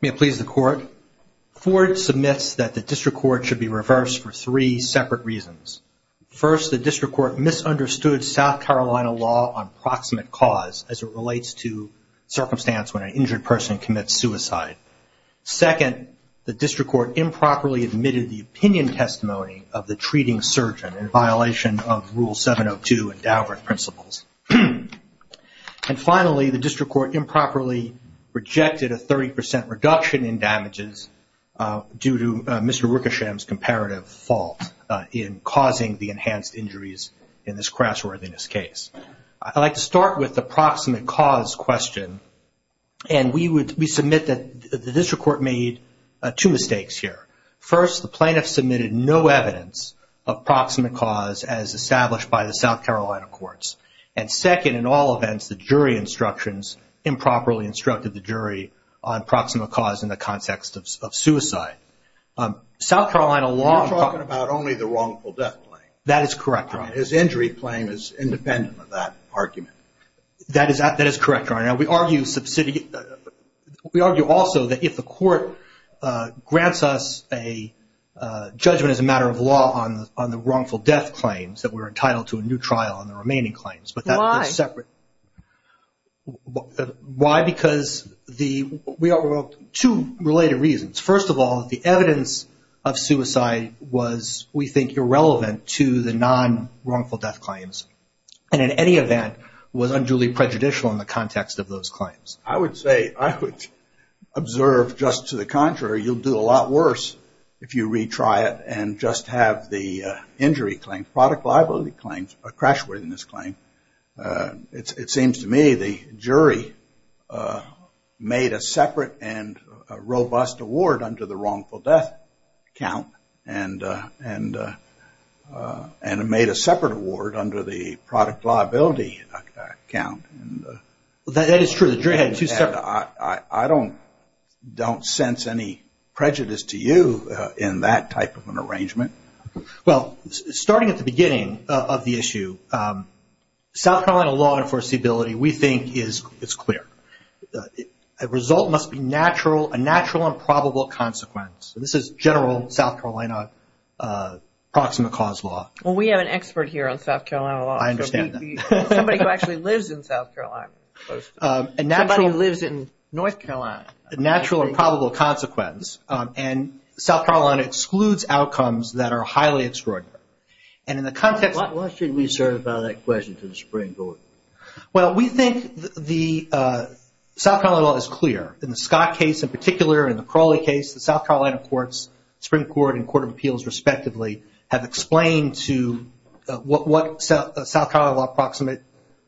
May it please the court, Ford submits that the District Court should be reversed for three separate reasons. First, the District Court misunderstood South Carolina law on proximate cause as it relates to circumstance when an injured person commits suicide. Second, the District Court improperly admitted the opinion testimony of the treating surgeon in violation of Rule 702 and Daubert principles. And finally, the District Court improperly rejected a 30% reduction in damages due to Mr. Wickersham's comparative fault in causing the enhanced injuries in this crassworthiness case. I'd like to start with the proximate cause question and we submit that the District Court made two mistakes here. First, the plaintiff submitted no evidence of proximate cause as established by the South Carolina courts. And second, in all events, the jury instructions improperly instructed the jury on proximate cause in the context of suicide. South Carolina law... You're talking about only the wrongful death claim. That is correct, Your Honor. His injury claim is independent of that argument. That is correct, Your Honor. Now, we argue also that if the court grants us a judgment as a matter of law on the wrongful death claims, that we're entitled to a new trial on the remaining claims. But that's separate. Why? Why? Because we have two related reasons. First of all, the evidence of suicide was, we think, irrelevant to the non-wrongful death claims. And in any event, was unduly prejudicial in the context of those claims. I would say... I would observe just to the contrary, you'll do a lot worse if you retry it and just have the injury claim, product liability claims, a crassworthiness claim. It seems to me the jury made a separate and robust award under the wrongful death count and made a separate award under the product liability count. That is true. The jury had two separate... I don't sense any prejudice to you in that type of an arrangement. Well, starting at the beginning of the issue, South Carolina law enforceability, we think, is clear. A result must be a natural and probable consequence. This is general South Carolina proximate cause law. Well, we have an expert here on South Carolina law. I understand that. Somebody who actually lives in South Carolina. Somebody who lives in North Carolina. A natural and probable consequence. And South Carolina excludes outcomes that are highly extraordinary. And in the context... What should we assert about that question to the Supreme Court? Well, we think the South Carolina law is clear. In the Scott case in particular, in the Crowley case, the South Carolina courts, Supreme Court and Court of Appeals respectively, have explained to what South Carolina law proximate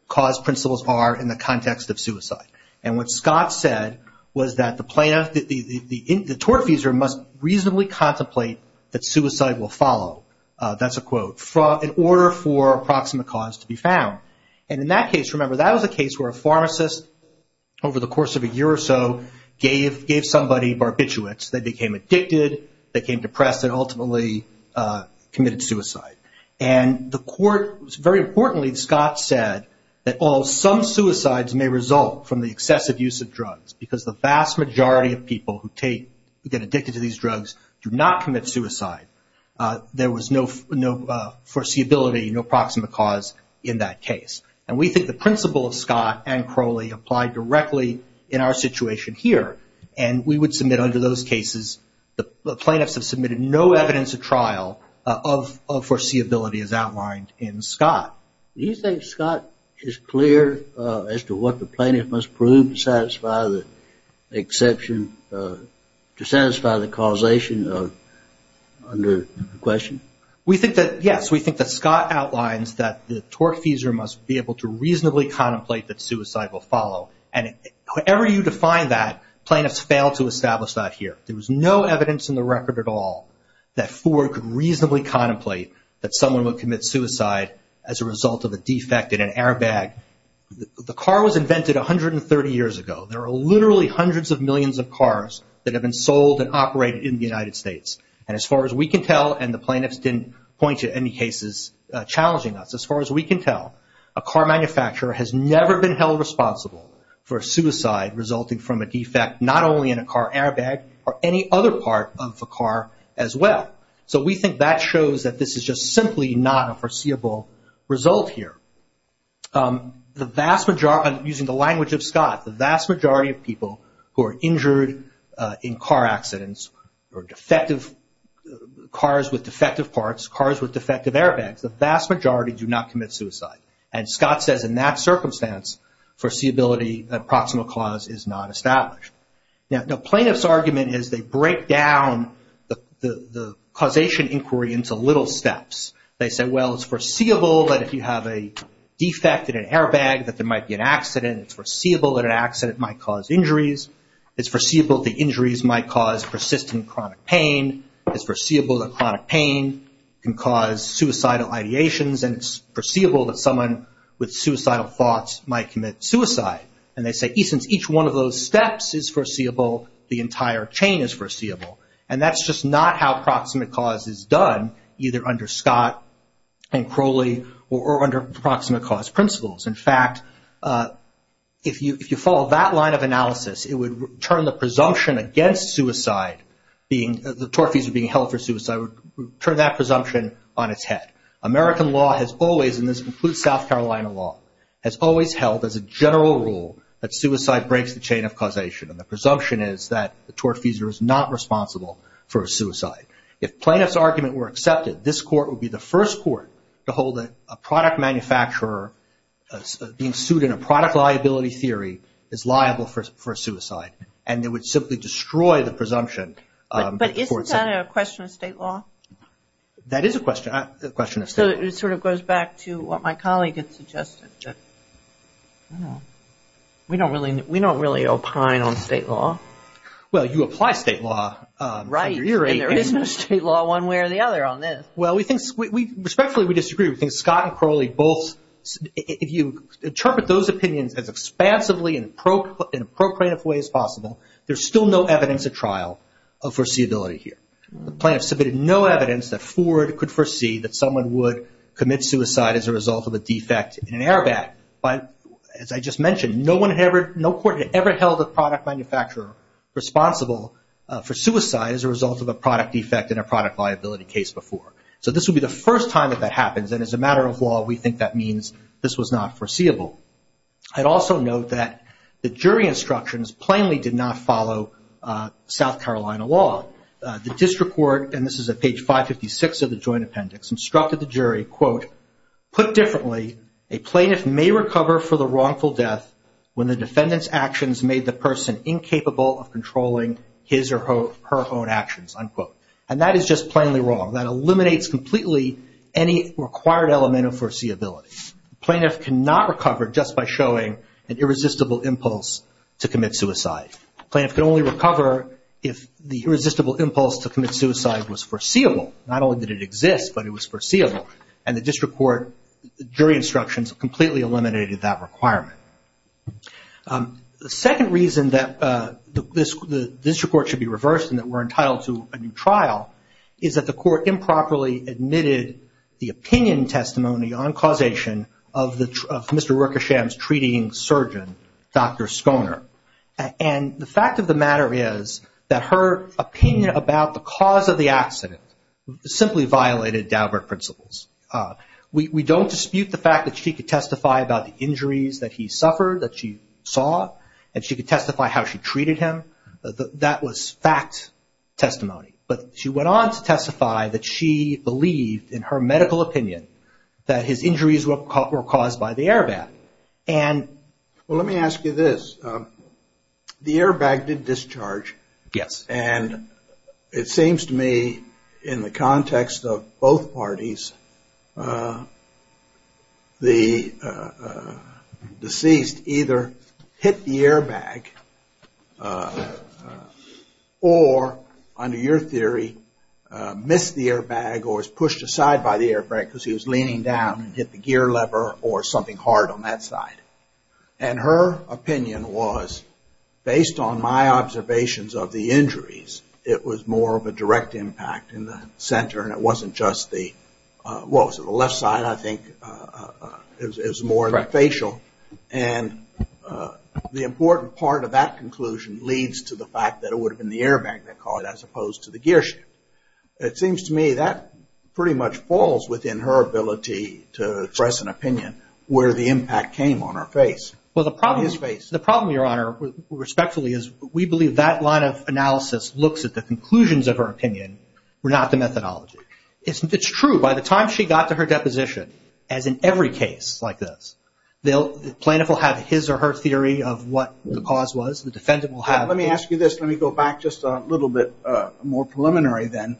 cause principles are in the context of suicide. And what Scott said was that the tortfeasor must reasonably contemplate that suicide will follow. That's a quote. In order for proximate cause to be found. And in that case, remember, that was a case where a pharmacist, over the course of a year or so, gave somebody barbiturates. They became addicted. They became depressed. And ultimately committed suicide. And the court, very importantly, Scott said that while some suicides may result from the excessive use of drugs, because the vast majority of people who get addicted to these drugs do not commit suicide, there was no foreseeability, no proximate cause in that case. And we think the principle of Scott and Crowley applied directly in our situation here. And we would submit under those cases, the plaintiffs have submitted no evidence of trial of foreseeability as outlined in Scott. Do you think Scott is clear as to what the plaintiff must prove to satisfy the exception, to satisfy the causation under the question? We think that, yes, we think that Scott outlines that the tortfeasor must be able to reasonably contemplate that suicide will follow. And however you define that, plaintiffs failed to establish that here. There was no evidence in the record at all that Ford could reasonably contemplate that someone would commit suicide as a result of a defect in an airbag. The car was invented 130 years ago. There are literally hundreds of millions of cars that have been sold and operated in the United States. And as far as we can tell, and the plaintiffs didn't point to any cases challenging us, as far as we can tell, a car manufacturer has never been held responsible for a suicide resulting from a defect not only in a car airbag, or any other part of the car as well. So we think that shows that this is just simply not a foreseeable result here. The vast majority, using the language of Scott, the vast majority of people who are injured in car accidents, or cars with defective parts, cars with defective airbags, the vast majority do not commit suicide. And Scott says in that circumstance, foreseeability, that proximal clause is not established. Now, the plaintiff's argument is they break down the causation inquiry into little steps. They say, well, it's foreseeable that if you have a defect in an airbag that there might be an accident. It's foreseeable that an accident might cause injuries. It's foreseeable that injuries might cause persistent chronic pain. It's foreseeable that chronic pain can cause suicidal ideations. And it's foreseeable that someone with suicidal thoughts might commit suicide. And they say, since each one of those steps is foreseeable, the entire chain is foreseeable. And that's just not how proximate cause is done, either under Scott and Crowley or under proximate cause principles. In fact, if you follow that line of analysis, it would turn the presumption against suicide, the tortfeasor being held for suicide, would turn that presumption on its head. American law has always, and this includes South Carolina law, has always held as a general rule that suicide breaks the chain of causation. And the presumption is that the tortfeasor is not responsible for a suicide. If plaintiff's argument were accepted, this court would be the first court to hold that a product manufacturer being sued in a product liability theory is liable for suicide. And they would simply destroy the presumption. But isn't that a question of state law? That is a question of state law. So it sort of goes back to what my colleague had suggested. We don't really opine on state law. Well, you apply state law. Right. And there is no state law one way or the other on this. Well, we think, respectfully, we disagree. We think Scott and Crowley both, if you interpret those opinions as expansively and in an appropriative way as possible, there's still no evidence at trial of foreseeability here. The plaintiffs submitted no evidence that Ford could foresee that someone would commit suicide as a result of a defect in an airbag. As I just mentioned, no court had ever held a product manufacturer responsible for suicide as a result of a product defect in a product liability case before. So this would be the first time that that happens. And as a matter of law, we think that means this was not foreseeable. I'd also note that the jury instructions plainly did not follow South Carolina law. The district court, and this is at page 556 of the Joint Appendix, instructed the jury, quote, put differently, a plaintiff may recover for the wrongful death when the defendant's actions made the person incapable of controlling his or her own actions, unquote. And that is just plainly wrong. That eliminates completely any required element of foreseeability. A plaintiff cannot recover just by showing an irresistible impulse to commit suicide. A plaintiff can only recover if the irresistible impulse to commit suicide was foreseeable. Not only did it exist, but it was foreseeable. And the district court, jury instructions completely eliminated that requirement. The second reason that the district court should be reversed and that we're entitled to a new trial is that the court improperly admitted the opinion testimony on causation of Mr. Rikersham's treating surgeon, Dr. Schoner. And the fact of the matter is that her opinion about the cause of the accident simply violated Daubert principles. We don't dispute the fact that she could testify about the injuries that he suffered, that she saw, and she could testify how she treated him. That was fact testimony. But she went on to testify that she believed, in her medical opinion, that his injuries were caused by the airbag. Well, let me ask you this. The airbag did discharge. Yes. And it seems to me, in the context of both parties, the deceased either hit the airbag or, under your theory, missed the airbag or was pushed aside by the airbag because he was leaning down and hit the gear lever or something hard on that side. And her opinion was, based on my observations of the injuries, it was more of a direct impact in the center and it wasn't just the, what was it, the left side, I think, is more the facial. And the important part of that conclusion leads to the fact that it would have been the airbag that caused it as opposed to the gear shift. It seems to me that pretty much falls within her ability to express an opinion where the impact came on her face. Well, the problem, Your Honor, respectfully, is we believe that line of analysis looks at the conclusions of her opinion, not the methodology. It's true, by the time she got to her deposition, as in every case like this, the plaintiff will have his or her theory of what the cause was, the defendant will have. Let me ask you this. Let me go back just a little bit more preliminary then.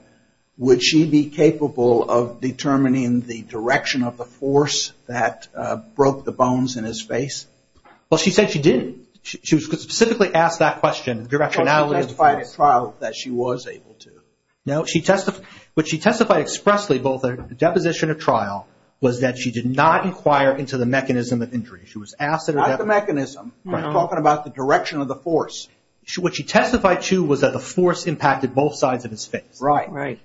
Would she be capable of determining the direction of the force that broke the bones in his face? Well, she said she didn't. She was specifically asked that question. The directionality of the force. No, she testified at trial that she was able to. No, she testified, but she testified expressly, both at the deposition and at trial, was that she did not inquire into the mechanism of injury. She was asked. Not the mechanism. I'm talking about the direction of the force. What she testified to was that the force impacted both sides of his face. Right.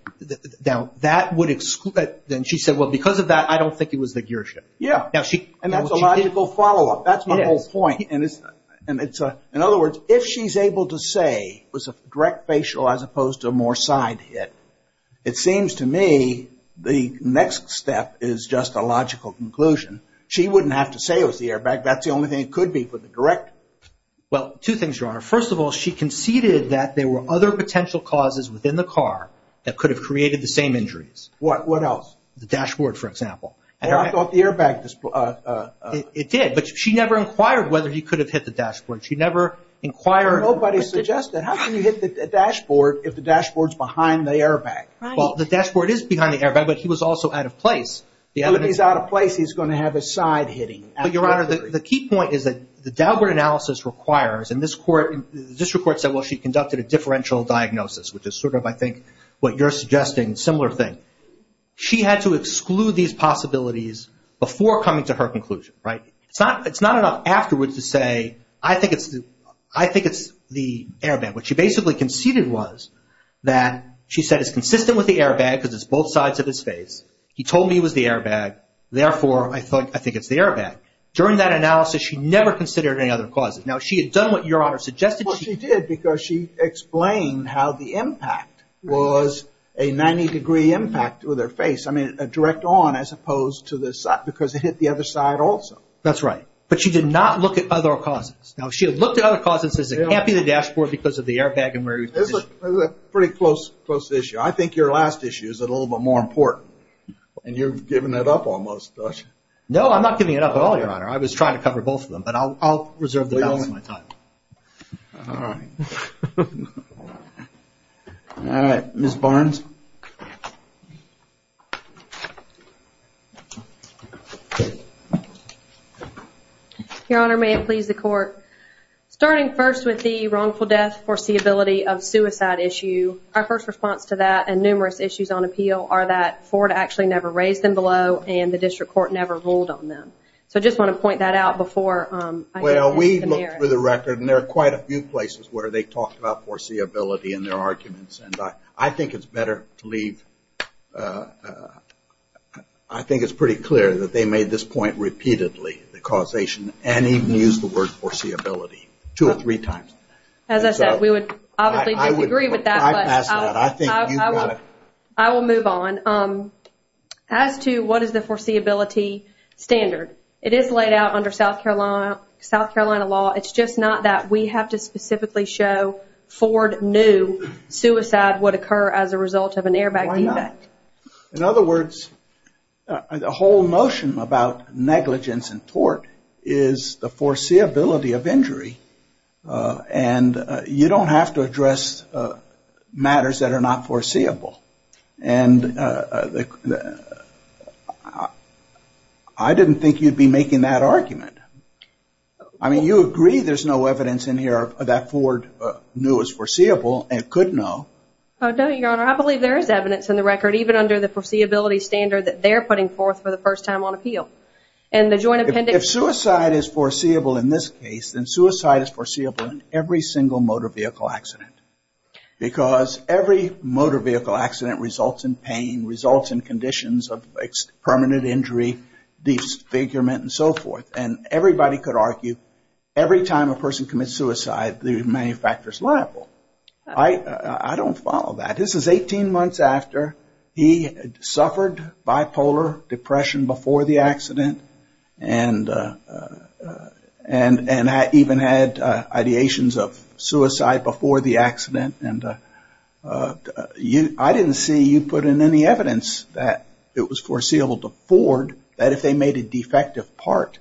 Now, that would exclude, then she said, well, because of that, I don't think it was the gearshift. Yeah. And that's a logical follow-up. That's my whole point. In other words, if she's able to say it was a direct facial as opposed to a more side hit, it seems to me the next step is just a logical conclusion. She wouldn't have to say it was the airbag. That's the only thing it could be for the direct. Well, two things, Your Honor. First of all, she conceded that there were other potential causes within the car that could have created the same injuries. What? What else? The dashboard, for example. Well, I thought the airbag. It did, but she never inquired whether he could have hit the dashboard. She never inquired. Nobody suggested. How can you hit the dashboard if the dashboard's behind the airbag? Well, the dashboard is behind the airbag, but he was also out of place. If he's out of place, he's going to have a side hitting. Your Honor, the key point is that the dashboard analysis requires, and the district court said, well, she conducted a differential diagnosis, which is sort of, I think, what you're suggesting, a similar thing. She had to exclude these possibilities before coming to her conclusion, right? It's not enough afterwards to say, I think it's the airbag. What she basically conceded was that she said it's consistent with the airbag because it's both sides of his face. He told me it was the airbag. Therefore, I think it's the airbag. During that analysis, she never considered any other causes. Now, she had done what Your Honor suggested. Well, she did because she explained how the impact was a 90-degree impact with her face. I mean, direct on as opposed to the side because it hit the other side also. That's right. But she did not look at other causes. Now, if she had looked at other causes, it can't be the dashboard because of the airbag and where he was positioned. That's a pretty close issue. I think your last issue is a little bit more important, and you've given it up almost. No, I'm not giving it up at all, Your Honor. I was trying to cover both of them, but I'll reserve the balance of my time. All right. All right, Ms. Barnes. Your Honor, may it please the Court. Starting first with the wrongful death foreseeability of suicide issue, our first response to that and numerous issues on appeal are that Ford actually never raised them below and the district court never ruled on them. So I just want to point that out before I get past the merits. Well, we looked through the record, and there are quite a few places where they talked about foreseeability in their arguments, and I think it's better to leave. I think it's pretty clear that they made this point repeatedly, the causation, and even used the word foreseeability two or three times. As I said, we would obviously disagree with that, but I will move on. As to what is the foreseeability standard, it is laid out under South Carolina law. It's just not that we have to specifically show Ford knew suicide would occur as a result of an airbag debate. Why not? In other words, the whole notion about negligence and tort is the foreseeability of injury and you don't have to address matters that are not foreseeable. And I didn't think you'd be making that argument. I mean, you agree there's no evidence in here that Ford knew was foreseeable and could know. No, Your Honor, I believe there is evidence in the record, even under the foreseeability standard that they're putting forth for the first time on appeal. If suicide is foreseeable in this case, then suicide is foreseeable in every single motor vehicle accident. Because every motor vehicle accident results in pain, results in conditions of permanent injury, disfigurement, and so forth. And everybody could argue every time a person commits suicide, the manufacturer is liable. I don't follow that. This is 18 months after he suffered bipolar depression before the accident and even had ideations of suicide before the accident. And I didn't see you put in any evidence that it was foreseeable to Ford that if they made a defective part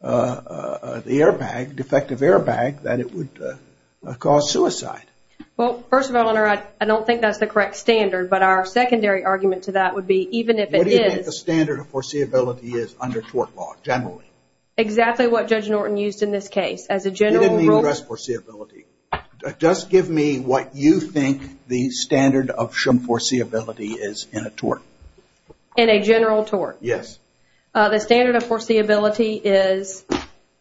of the airbag, defective airbag, that it would cause suicide. Well, first of all, Your Honor, I don't think that's the correct standard, but our secondary argument to that would be even if it is... What do you think the standard of foreseeability is under tort law, generally? Exactly what Judge Norton used in this case. You didn't mean risk foreseeability. Just give me what you think the standard of foreseeability is in a tort. In a general tort? Yes. The standard of foreseeability is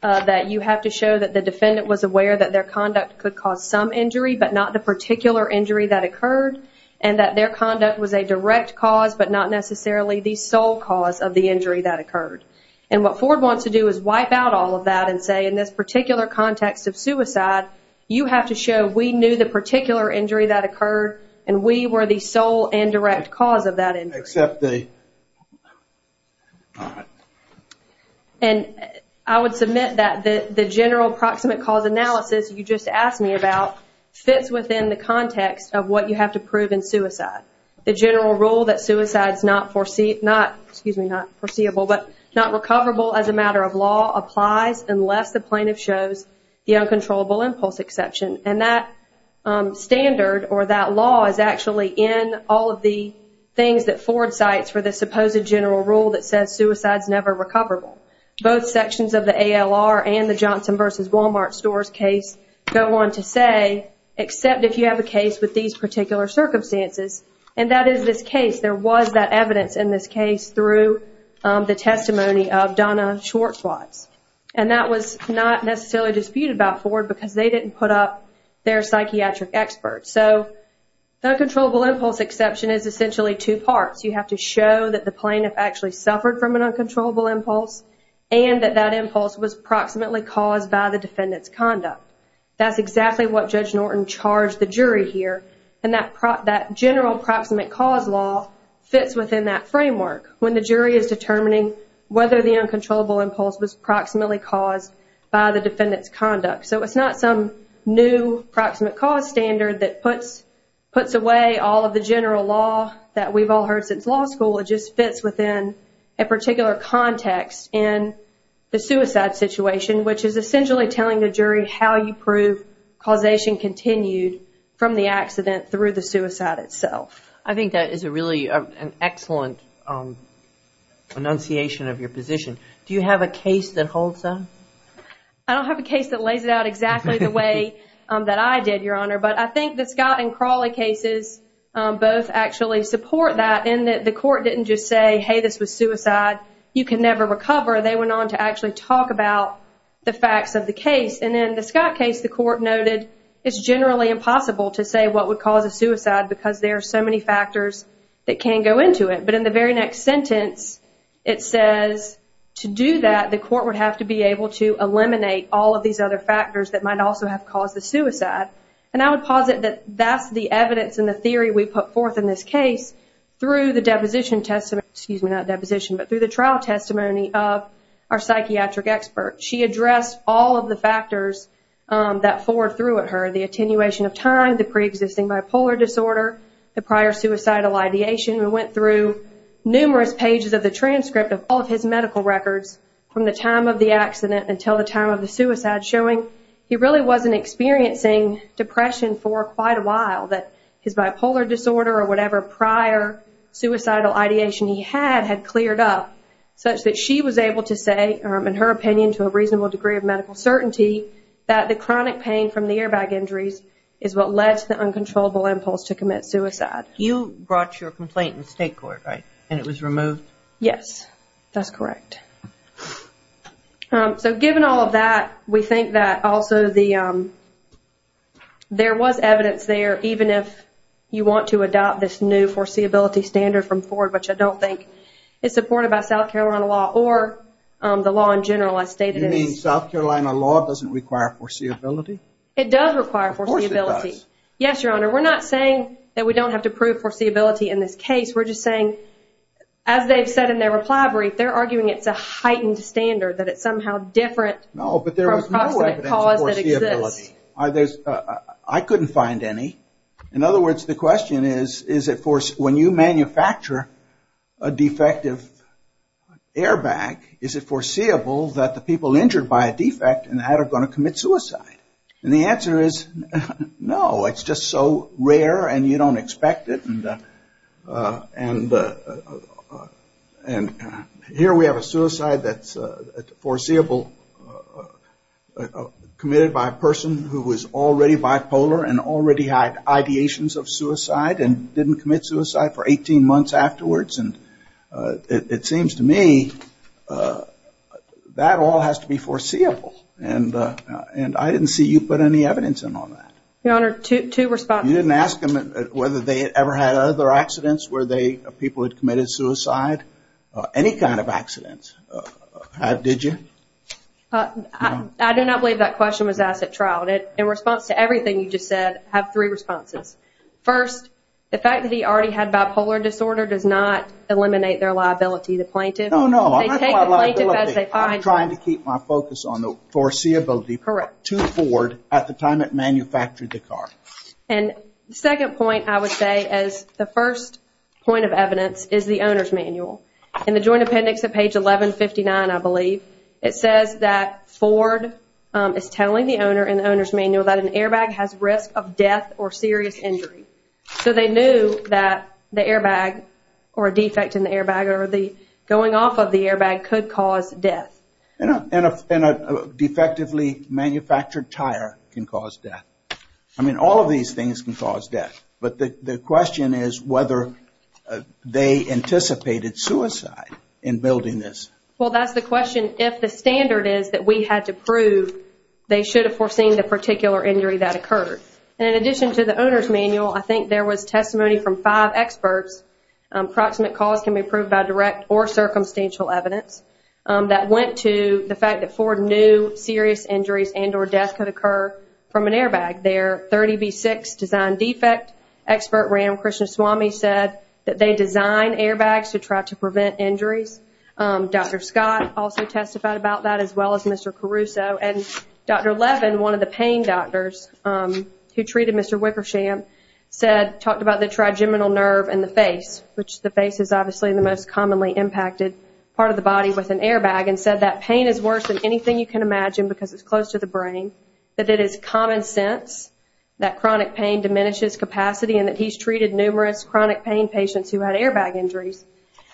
that you have to show that the defendant was aware that their conduct could cause some injury but not the particular injury that occurred and that their conduct was a direct cause but not necessarily the sole cause of the injury that occurred. And what Ford wants to do is wipe out all of that and say in this particular context of suicide, you have to show we knew the particular injury that occurred and we were the sole indirect cause of that injury. Except the... And I would submit that the general proximate cause analysis you just asked me about fits within the context of what you have to prove in suicide. The general rule that suicide is not foreseeable but not recoverable as a matter of law applies unless the plaintiff shows the uncontrollable impulse exception. And that standard or that law is actually in all of the things that Ford cites for the supposed general rule that says suicide is never recoverable. Both sections of the ALR and the Johnson versus Wal-Mart stores case go on to say except if you have a case with these particular circumstances and that is this case. There was that evidence in this case through the testimony of Donna Schwartz. And that was not necessarily disputed about Ford because they didn't put up their psychiatric experts. So the uncontrollable impulse exception is essentially two parts. You have to show that the plaintiff actually suffered from an uncontrollable impulse and that that impulse was proximately caused by the defendant's conduct. That's exactly what Judge Norton charged the jury here. And that general proximate cause law fits within that framework when the jury is determining whether the uncontrollable impulse was proximately caused by the defendant's conduct. So it's not some new proximate cause standard that puts away all of the general law that we've all heard since law school. It just fits within a particular context in the suicide situation which is essentially telling the jury how you prove causation continued from the accident through the suicide itself. I think that is really an excellent enunciation of your position. Do you have a case that holds that? I don't have a case that lays it out exactly the way that I did, Your Honor. But I think the Scott and Crawley cases both actually support that in that the court didn't just say, hey, this was suicide, you can never recover. They went on to actually talk about the facts of the case. And in the Scott case, the court noted it's generally impossible to say what would cause a suicide because there are so many factors that can go into it. But in the very next sentence it says to do that, the court would have to be able to eliminate all of these other factors that might also have caused the suicide. And I would posit that that's the evidence and the theory we put forth in this case through the trial testimony of our psychiatric expert. She addressed all of the factors that Ford threw at her, the attenuation of time, the preexisting bipolar disorder, the prior suicidal ideation. We went through numerous pages of the transcript of all of his medical records from the time of the accident until the time of the suicide showing he really wasn't experiencing depression for quite a while, that his bipolar disorder or whatever prior suicidal ideation he had had cleared up such that she was able to say, in her opinion to a reasonable degree of medical certainty, that the chronic pain from the airbag injuries is what led to the uncontrollable impulse to commit suicide. You brought your complaint in state court, right, and it was removed? Yes, that's correct. So given all of that, we think that also there was evidence there even if you want to adopt this new foreseeability standard from Ford, which I don't think is supported by South Carolina law or the law in general as stated. You mean South Carolina law doesn't require foreseeability? It does require foreseeability. Of course it does. Yes, Your Honor, we're not saying that we don't have to prove foreseeability in this case. We're just saying, as they've said in their reply brief, they're arguing it's a heightened standard, that it's somehow different from a cause that exists. No, but there was no evidence of foreseeability. I couldn't find any. In other words, the question is, when you manufacture a defective airbag, is it foreseeable that the people injured by a defect in the head are going to commit suicide? And the answer is no. It's just so rare and you don't expect it. And here we have a suicide that's foreseeable, committed by a person who is already bipolar and already had ideations of suicide and didn't commit suicide for 18 months afterwards. And it seems to me that all has to be foreseeable. And I didn't see you put any evidence in on that. Your Honor, two responses. You didn't ask them whether they had ever had other accidents where people had committed suicide, any kind of accidents, did you? I do not believe that question was asked at trial. In response to everything you just said, I have three responses. First, the fact that he already had bipolar disorder does not eliminate their liability, the plaintiff. No, no, I'm not talking about liability. I'm trying to keep my focus on the foreseeability too forward at the time it manufactured the car. And the second point I would say as the first point of evidence is the owner's manual. In the joint appendix at page 1159, I believe, it says that Ford is telling the owner in the owner's manual that an airbag has risk of death or serious injury. So they knew that the airbag or a defect in the airbag or the going off of the airbag could cause death. And a defectively manufactured tire can cause death. I mean, all of these things can cause death. But the question is whether they anticipated suicide in building this. Well, that's the question. If the standard is that we had to prove they should have foreseen the particular injury that occurred. And in addition to the owner's manual, I think there was testimony from five experts, approximate cause can be proved by direct or circumstantial evidence, that went to the fact that Ford knew serious injuries and or death could occur from an airbag. Their 30B6 design defect expert, Ram Krishnaswamy, said that they designed airbags to try to prevent injuries. Dr. Scott also testified about that as well as Mr. Caruso. And Dr. Levin, one of the pain doctors who treated Mr. Wickersham, said, talked about the trigeminal nerve in the face, which the face is obviously the most commonly impacted part of the body with an airbag, and said that pain is worse than anything you can imagine because it's close to the brain, that it is common sense that chronic pain diminishes capacity and that he's treated numerous chronic pain patients who had airbag injuries.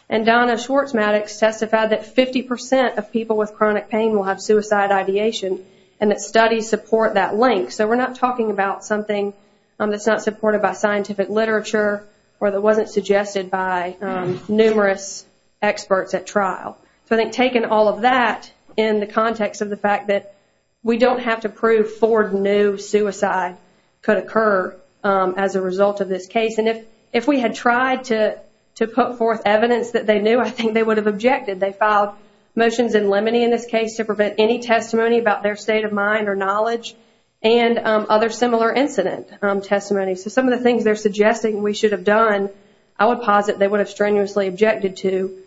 And Donna Schwartzmatics testified that 50% of people with chronic pain will have suicide ideation and that studies support that link. So we're not talking about something that's not supported by scientific literature or that wasn't suggested by numerous experts at trial. So I think taking all of that in the context of the fact that we don't have to prove Ford knew suicide could occur as a result of this case, and if we had tried to put forth evidence that they knew, I think they would have objected. They filed motions in limine in this case to prevent any testimony about their state of mind or knowledge and other similar incident testimonies. So some of the things they're suggesting we should have done, I would posit they would have strenuously objected to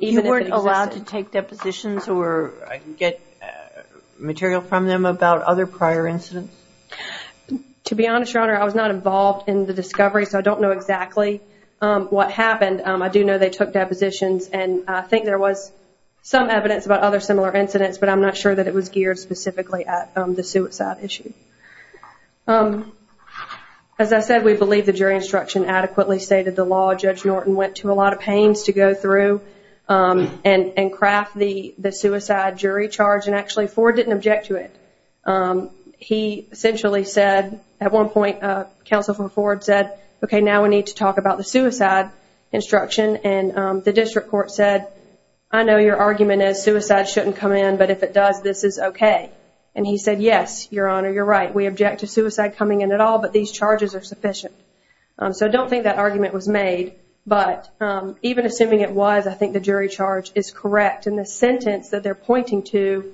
even if it existed. You weren't allowed to take depositions or get material from them about other prior incidents? To be honest, Your Honor, I was not involved in the discovery, so I don't know exactly what happened. I do know they took depositions, and I think there was some evidence about other similar incidents, but I'm not sure that it was geared specifically at the suicide issue. As I said, we believe the jury instruction adequately stated the law. Judge Norton went to a lot of pains to go through and craft the suicide jury charge, and actually Ford didn't object to it. He essentially said at one point, counsel for Ford said, okay, now we need to talk about the suicide instruction, and the district court said, I know your argument is suicide shouldn't come in, but if it does, this is okay. And he said, yes, Your Honor, you're right. We object to suicide coming in at all, but these charges are sufficient. So I don't think that argument was made, but even assuming it was, I think the jury charge is correct. And the sentence that they're pointing to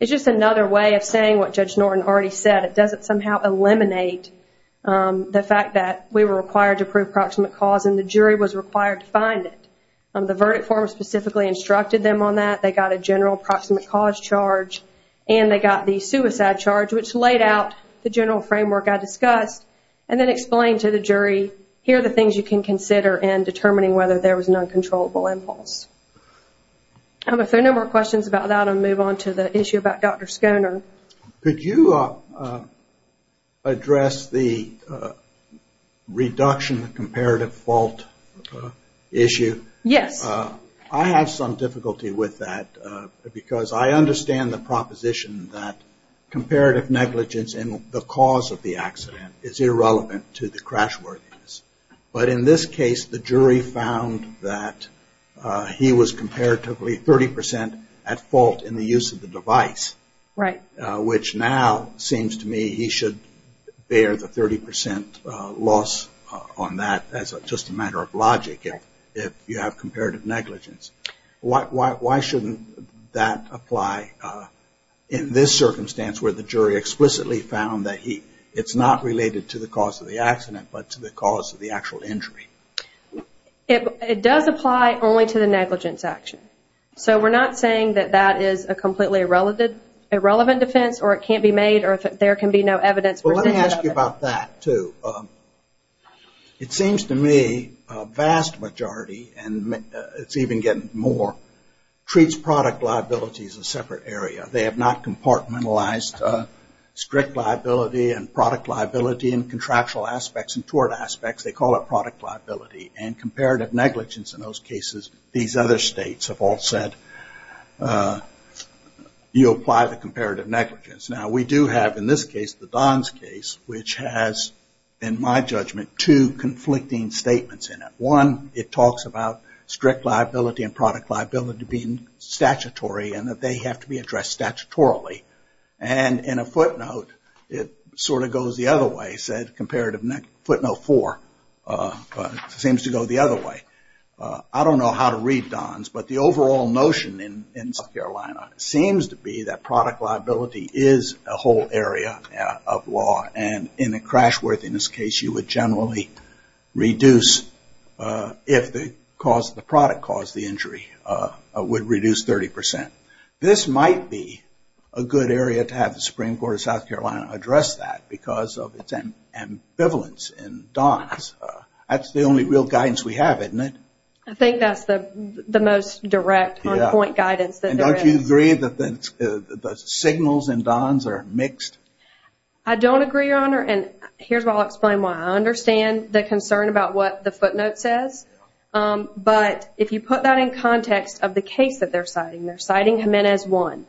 is just another way of saying what Judge Norton already said. It doesn't somehow eliminate the fact that we were required to prove proximate cause, and the jury was required to find it. The verdict form specifically instructed them on that. They got a general proximate cause charge, and they got the suicide charge, which laid out the general framework I discussed, and then explained to the jury, here are the things you can consider in determining whether there was an uncontrollable impulse. If there are no more questions about that, I'll move on to the issue about Dr. Schoner. Could you address the reduction comparative fault issue? Yes. I have some difficulty with that because I understand the proposition that comparative negligence in the cause of the accident is irrelevant to the crash worthiness. But in this case, the jury found that he was comparatively 30% at fault in the use of the device. Right. Which now seems to me he should bear the 30% loss on that as just a matter of logic. If you have comparative negligence. Why shouldn't that apply in this circumstance where the jury explicitly found that it's not related to the cause of the accident, but to the cause of the actual injury? It does apply only to the negligence action. So we're not saying that that is a completely irrelevant defense, or it can't be made, or there can be no evidence. Let me ask you about that, too. It seems to me a vast majority, and it's even getting more, treats product liability as a separate area. They have not compartmentalized strict liability and product liability in contractual aspects and tort aspects. They call it product liability. And comparative negligence in those cases, these other states have all said you apply the comparative negligence. Now we do have, in this case, the Don's case, which has, in my judgment, two conflicting statements in it. One, it talks about strict liability and product liability being statutory and that they have to be addressed statutorily. And in a footnote, it sort of goes the other way. It said comparative footnote four. It seems to go the other way. I don't know how to read Don's, but the overall notion in South Carolina seems to be that product liability is a whole area of law. And in a crashworthiness case, you would generally reduce if the product caused the injury. It would reduce 30%. This might be a good area to have the Supreme Court of South Carolina address that because of its ambivalence in Don's. That's the only real guidance we have, isn't it? I think that's the most direct on-point guidance that there is. And don't you agree that the signals in Don's are mixed? I don't agree, Your Honor, and here's where I'll explain why. I understand the concern about what the footnote says, but if you put that in context of the case that they're citing, they're citing Jimenez 1.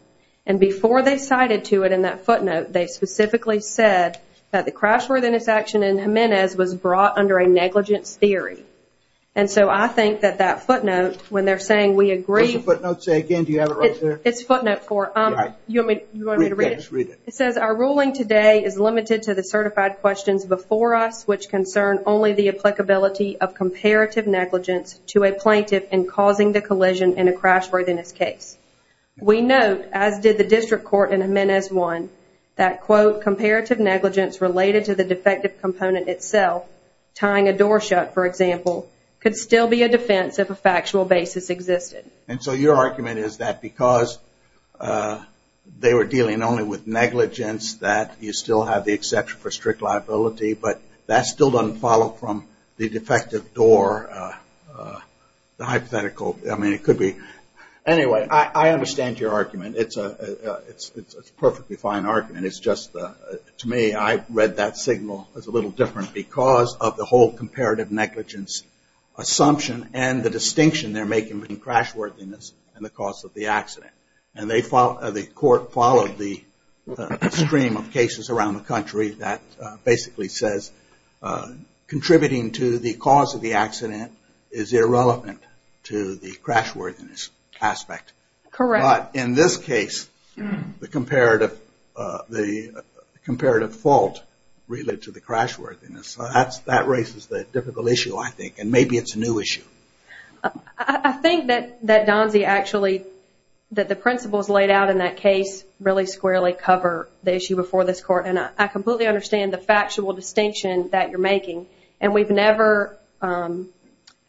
And before they cited to it in that footnote, they specifically said that the crashworthiness action in Jimenez was brought under a negligence theory. And so I think that that footnote, when they're saying we agree… It's footnote 4. It says, our ruling today is limited to the certified questions before us which concern only the applicability of comparative negligence to a plaintiff in causing the collision in a crashworthiness case. We note, as did the district court in Jimenez 1, that, quote, comparative negligence related to the defective component itself, tying a door shut, for example, could still be a defense if a factual basis existed. And so your argument is that because they were dealing only with negligence, that you still have the exception for strict liability, but that still doesn't follow from the defective door, the hypothetical… I mean, it could be… Anyway, I understand your argument. It's a perfectly fine argument. It's just, to me, I read that signal as a little different because of the whole comparative negligence assumption and the distinction they're making between crashworthiness and the cause of the accident. And the court followed the stream of cases around the country that basically says, contributing to the cause of the accident is irrelevant to the crashworthiness aspect. Correct. But in this case, the comparative fault related to the crashworthiness. That raises the difficult issue, I think, and maybe it's a new issue. I think that Donzie actually, that the principles laid out in that case really squarely cover the issue before this court. And I completely understand the factual distinction that you're making. And we've never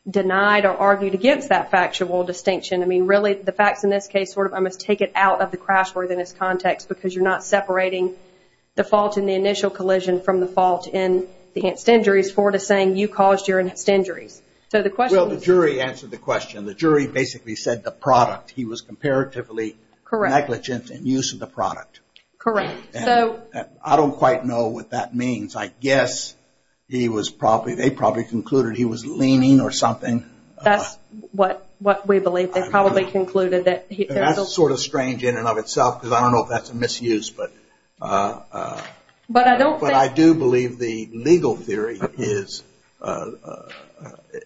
denied or argued against that factual distinction. I mean, really, the facts in this case, I must take it out of the crashworthiness context because you're not separating the fault in the initial collision from the fault in the enhanced injuries for the saying you caused your enhanced injuries. Well, the jury answered the question. The jury basically said the product. He was comparatively negligent in use of the product. Correct. I don't quite know what that means. I guess he was probably, they probably concluded he was leaning or something. That's what we believe. That's sort of strange in and of itself because I don't know if that's a misuse. But I do believe the legal theory is,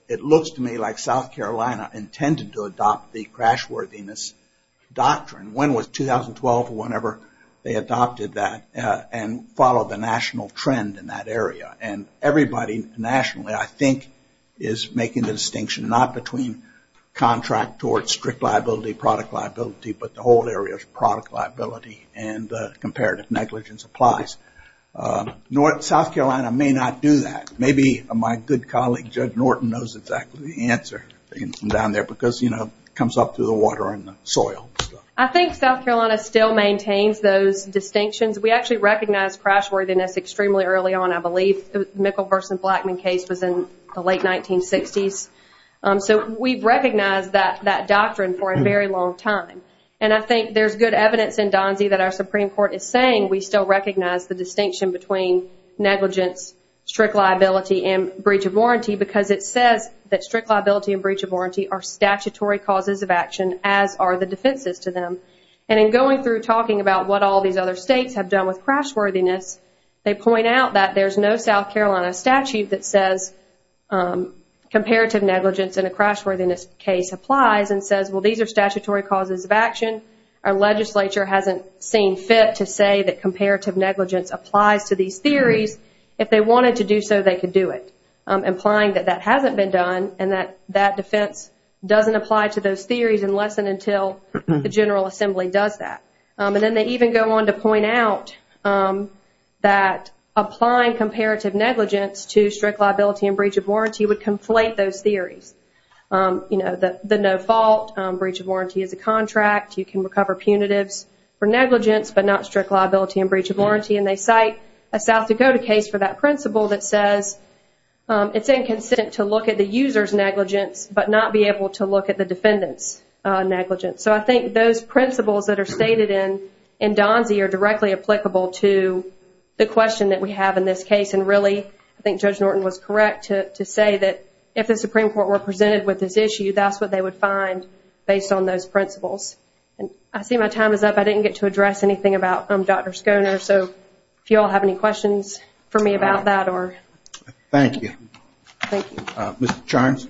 it looks to me like South Carolina intended to adopt the crashworthiness doctrine. When was 2012 or whenever they adopted that and followed the national trend in that area. And everybody nationally, I think, is making the distinction not between contract towards strict liability, product liability, but the whole area of product liability and comparative negligence applies. South Carolina may not do that. Maybe my good colleague, Judge Norton, knows exactly the answer down there because, you know, it comes up through the water and the soil. I think South Carolina still maintains those distinctions. We actually recognize crashworthiness extremely early on, I believe. The Mikkel-Versen-Blackman case was in the late 1960s. So we've recognized that doctrine for a very long time. And I think there's good evidence in Donzie that our Supreme Court is saying we still recognize the distinction between negligence, strict liability, and breach of warranty because it says that strict liability and breach of warranty are statutory causes of action, as are the defenses to them. And in going through talking about what all these other states have done with crashworthiness, they point out that there's no South Carolina statute that says comparative negligence in a crashworthiness case applies and says, well, these are statutory causes of action. Our legislature hasn't seen fit to say that comparative negligence applies to these theories. If they wanted to do so, they could do it, implying that that hasn't been done and that that defense doesn't apply to those theories unless and until the General Assembly does that. And then they even go on to point out that applying comparative negligence to strict liability and breach of warranty would conflate those theories, you know, the no fault, breach of warranty as a contract, you can recover punitives for negligence but not strict liability and breach of warranty. And they cite a South Dakota case for that principle that says it's inconsistent to look at the user's negligence but not be able to look at the defendant's negligence. So I think those principles that are stated in Donzie are directly applicable to the question that we have in this case. And really, I think Judge Norton was correct to say that if the Supreme Court were presented with this issue, that's what they would find based on those principles. I see my time is up. I didn't get to address anything about Dr. Schoener, so if you all have any questions for me about that or... Thank you. Thank you. Mr. Charns.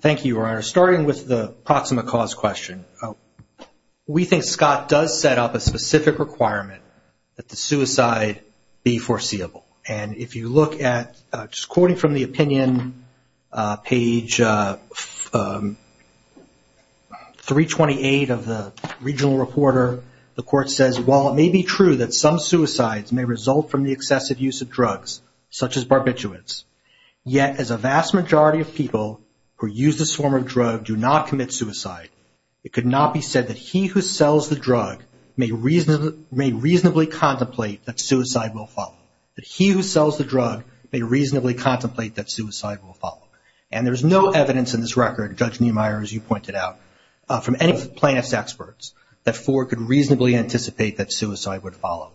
Thank you, Your Honor. Starting with the proximate cause question, we think Scott does set up a specific requirement that the suicide be foreseeable. And if you look at, just quoting from the opinion page 328 of the regional reporter, the court says, while it may be true that some suicides may result from the excessive use of drugs, such as barbiturates, yet as a vast majority of people who use this form of drug do not commit suicide, it could not be said that he who sells the drug may reasonably contemplate that suicide will follow. That he who sells the drug may reasonably contemplate that suicide will follow. And there's no evidence in this record, Judge Niemeyer, as you pointed out, from any plaintiff's experts, that Ford could reasonably anticipate that suicide would follow.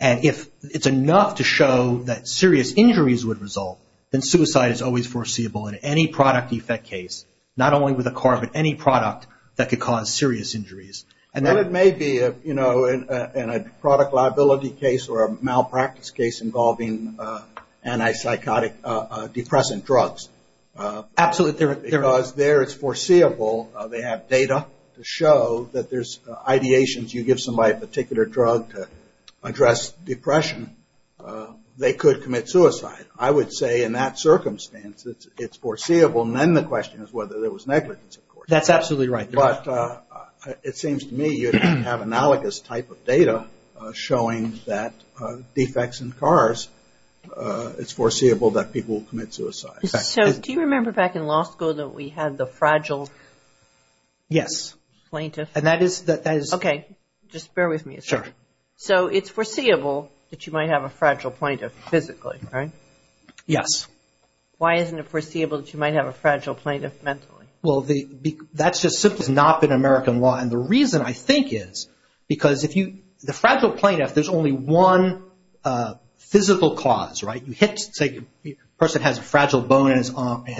And if it's enough to show that serious injuries would result, then suicide is always foreseeable in any product defect case, not only with a car, but any product that could cause serious injuries. And then it may be, you know, in a product liability case or a malpractice case involving antipsychotic depressant drugs. Absolutely. Because there it's foreseeable. They have data to show that there's ideations. You give somebody a particular drug to address depression, they could commit suicide. I would say in that circumstance, it's foreseeable. And then the question is whether there was negligence, of course. That's absolutely right. But it seems to me you have analogous type of data showing that defects in cars, it's foreseeable that people will commit suicide. So do you remember back in law school that we had the fragile plaintiff? Yes. Okay. Just bear with me a second. Sure. So it's foreseeable that you might have a fragile plaintiff physically, right? Yes. Why isn't it foreseeable that you might have a fragile plaintiff mentally? Well, that's just simply not been American law. And the reason I think is because if you – the fragile plaintiff, there's only one physical cause, right? You hit – say a person has a fragile bone in his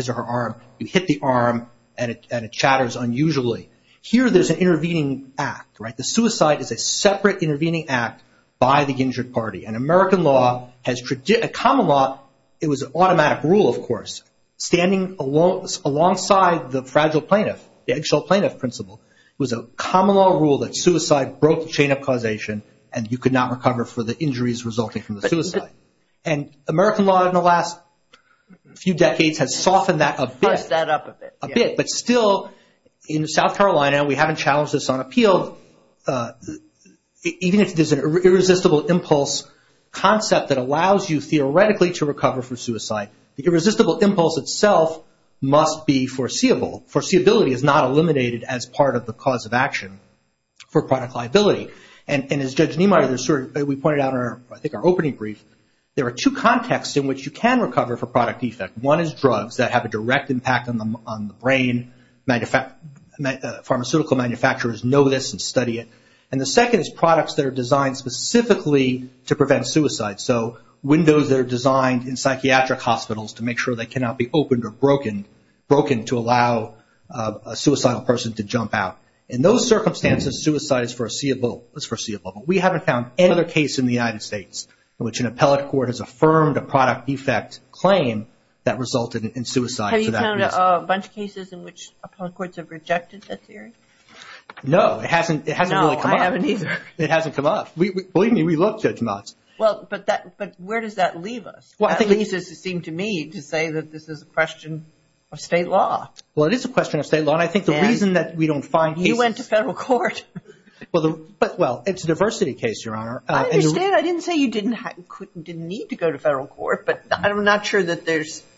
or her arm. You hit the arm and it chatters unusually. Here there's an intervening act, right? The suicide is a separate intervening act by the injured party. And American law has – common law, it was an automatic rule, of course. Standing alongside the fragile plaintiff, the eggshell plaintiff principle, was a common law rule that suicide broke the chain of causation and you could not recover for the injuries resulting from the suicide. And American law in the last few decades has softened that a bit. Pushed that up a bit. A bit. But still, in South Carolina, we haven't challenged this on appeal. Even if there's an irresistible impulse concept that allows you theoretically to recover for suicide, the irresistible impulse itself must be foreseeable. Foreseeability is not eliminated as part of the cause of action for product liability. And as Judge Niemeyer, we pointed out in our – I think our opening brief, there are two contexts in which you can recover for product defect. One is drugs that have a direct impact on the brain. Pharmaceutical manufacturers know this and study it. And the second is products that are designed specifically to prevent suicide. So windows that are designed in psychiatric hospitals to make sure they cannot be opened or broken to allow a suicidal person to jump out. In those circumstances, suicide is foreseeable. But we haven't found any other case in the United States in which an appellate court has affirmed a product defect claim that resulted in suicide for that reason. Have you found a bunch of cases in which appellate courts have rejected that theory? No, it hasn't really come up. No, I haven't either. It hasn't come up. Believe me, we love Judge Motz. But where does that leave us? At least it seemed to me to say that this is a question of state law. Well, it is a question of state law. And I think the reason that we don't find cases – You went to federal court. Well, it's a diversity case, Your Honor. I understand. I didn't say you didn't need to go to federal court. But I'm not sure that there's –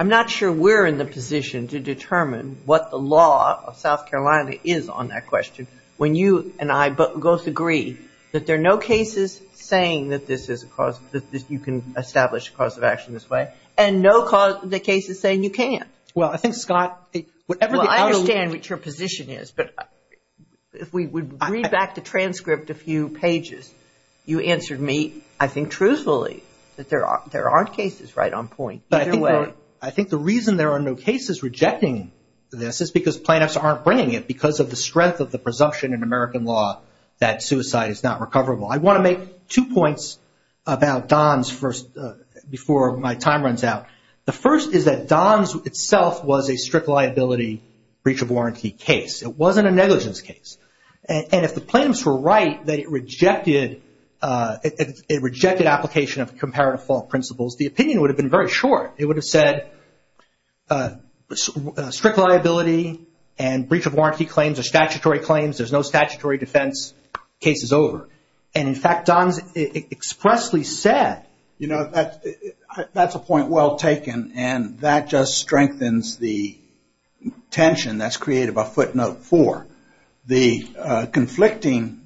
I'm not sure we're in the position to determine what the law of South Carolina is on that question when you and I both agree that there are no cases saying that this is a cause – that you can establish a cause of action this way, and no cases saying you can't. Well, I think, Scott – Well, I understand what your position is. But if we would read back the transcript a few pages, you answered me, I think, truthfully, that there aren't cases right on point either way. I think the reason there are no cases rejecting this is because plaintiffs aren't bringing it because of the strength of the presumption in American law that suicide is not recoverable. I want to make two points about Don's before my time runs out. The first is that Don's itself was a strict liability breach of warranty case. It wasn't a negligence case. And if the plaintiffs were right that it rejected application of comparative fault principles, the opinion would have been very short. It would have said strict liability and breach of warranty claims are statutory claims. There's no statutory defense. Case is over. And, in fact, Don's expressly said – You know, that's a point well taken. And that just strengthens the tension that's created by footnote four. The conflicting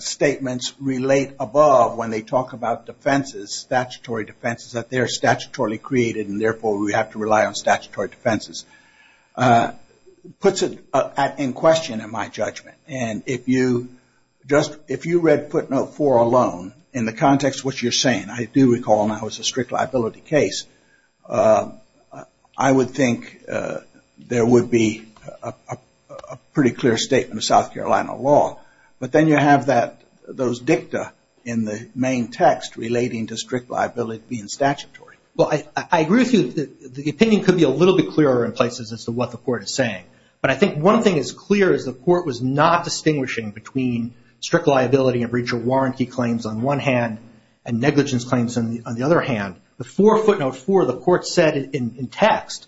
statements relate above when they talk about defenses, statutory defenses, that they are statutorily created and, therefore, we have to rely on statutory defenses. It puts it in question in my judgment. And if you read footnote four alone, in the context of what you're saying, I do recall now it's a strict liability case, I would think there would be a pretty clear statement of South Carolina law. But then you have those dicta in the main text relating to strict liability being statutory. Well, I agree with you. The opinion could be a little bit clearer in places as to what the court is saying. But I think one thing is clear is the court was not distinguishing between strict liability and breach of warranty claims on one hand and negligence claims on the other hand. Before footnote four, the court said in text,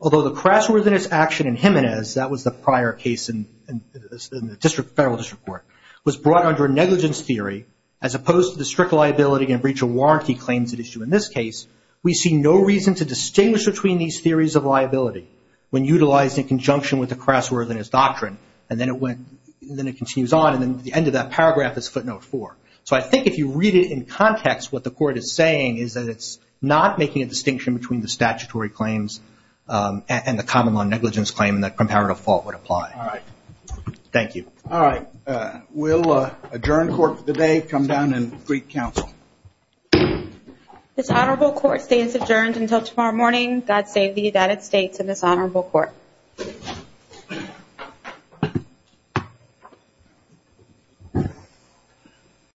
although the crassworthiness action in Jimenez, that was the prior case in the federal district court, was brought under negligence theory, as opposed to the strict liability and breach of warranty claims at issue in this case, we see no reason to distinguish between these theories of liability when utilized in conjunction with the crassworthiness doctrine. And then it continues on. And then the end of that paragraph is footnote four. So I think if you read it in context, what the court is saying is that it's not making a distinction between the statutory claims and the common law negligence claim and that comparative fault would apply. All right. Thank you. All right. We'll adjourn court for the day, come down and greet counsel. This honorable court stays adjourned until tomorrow morning. God save the United States and this honorable court.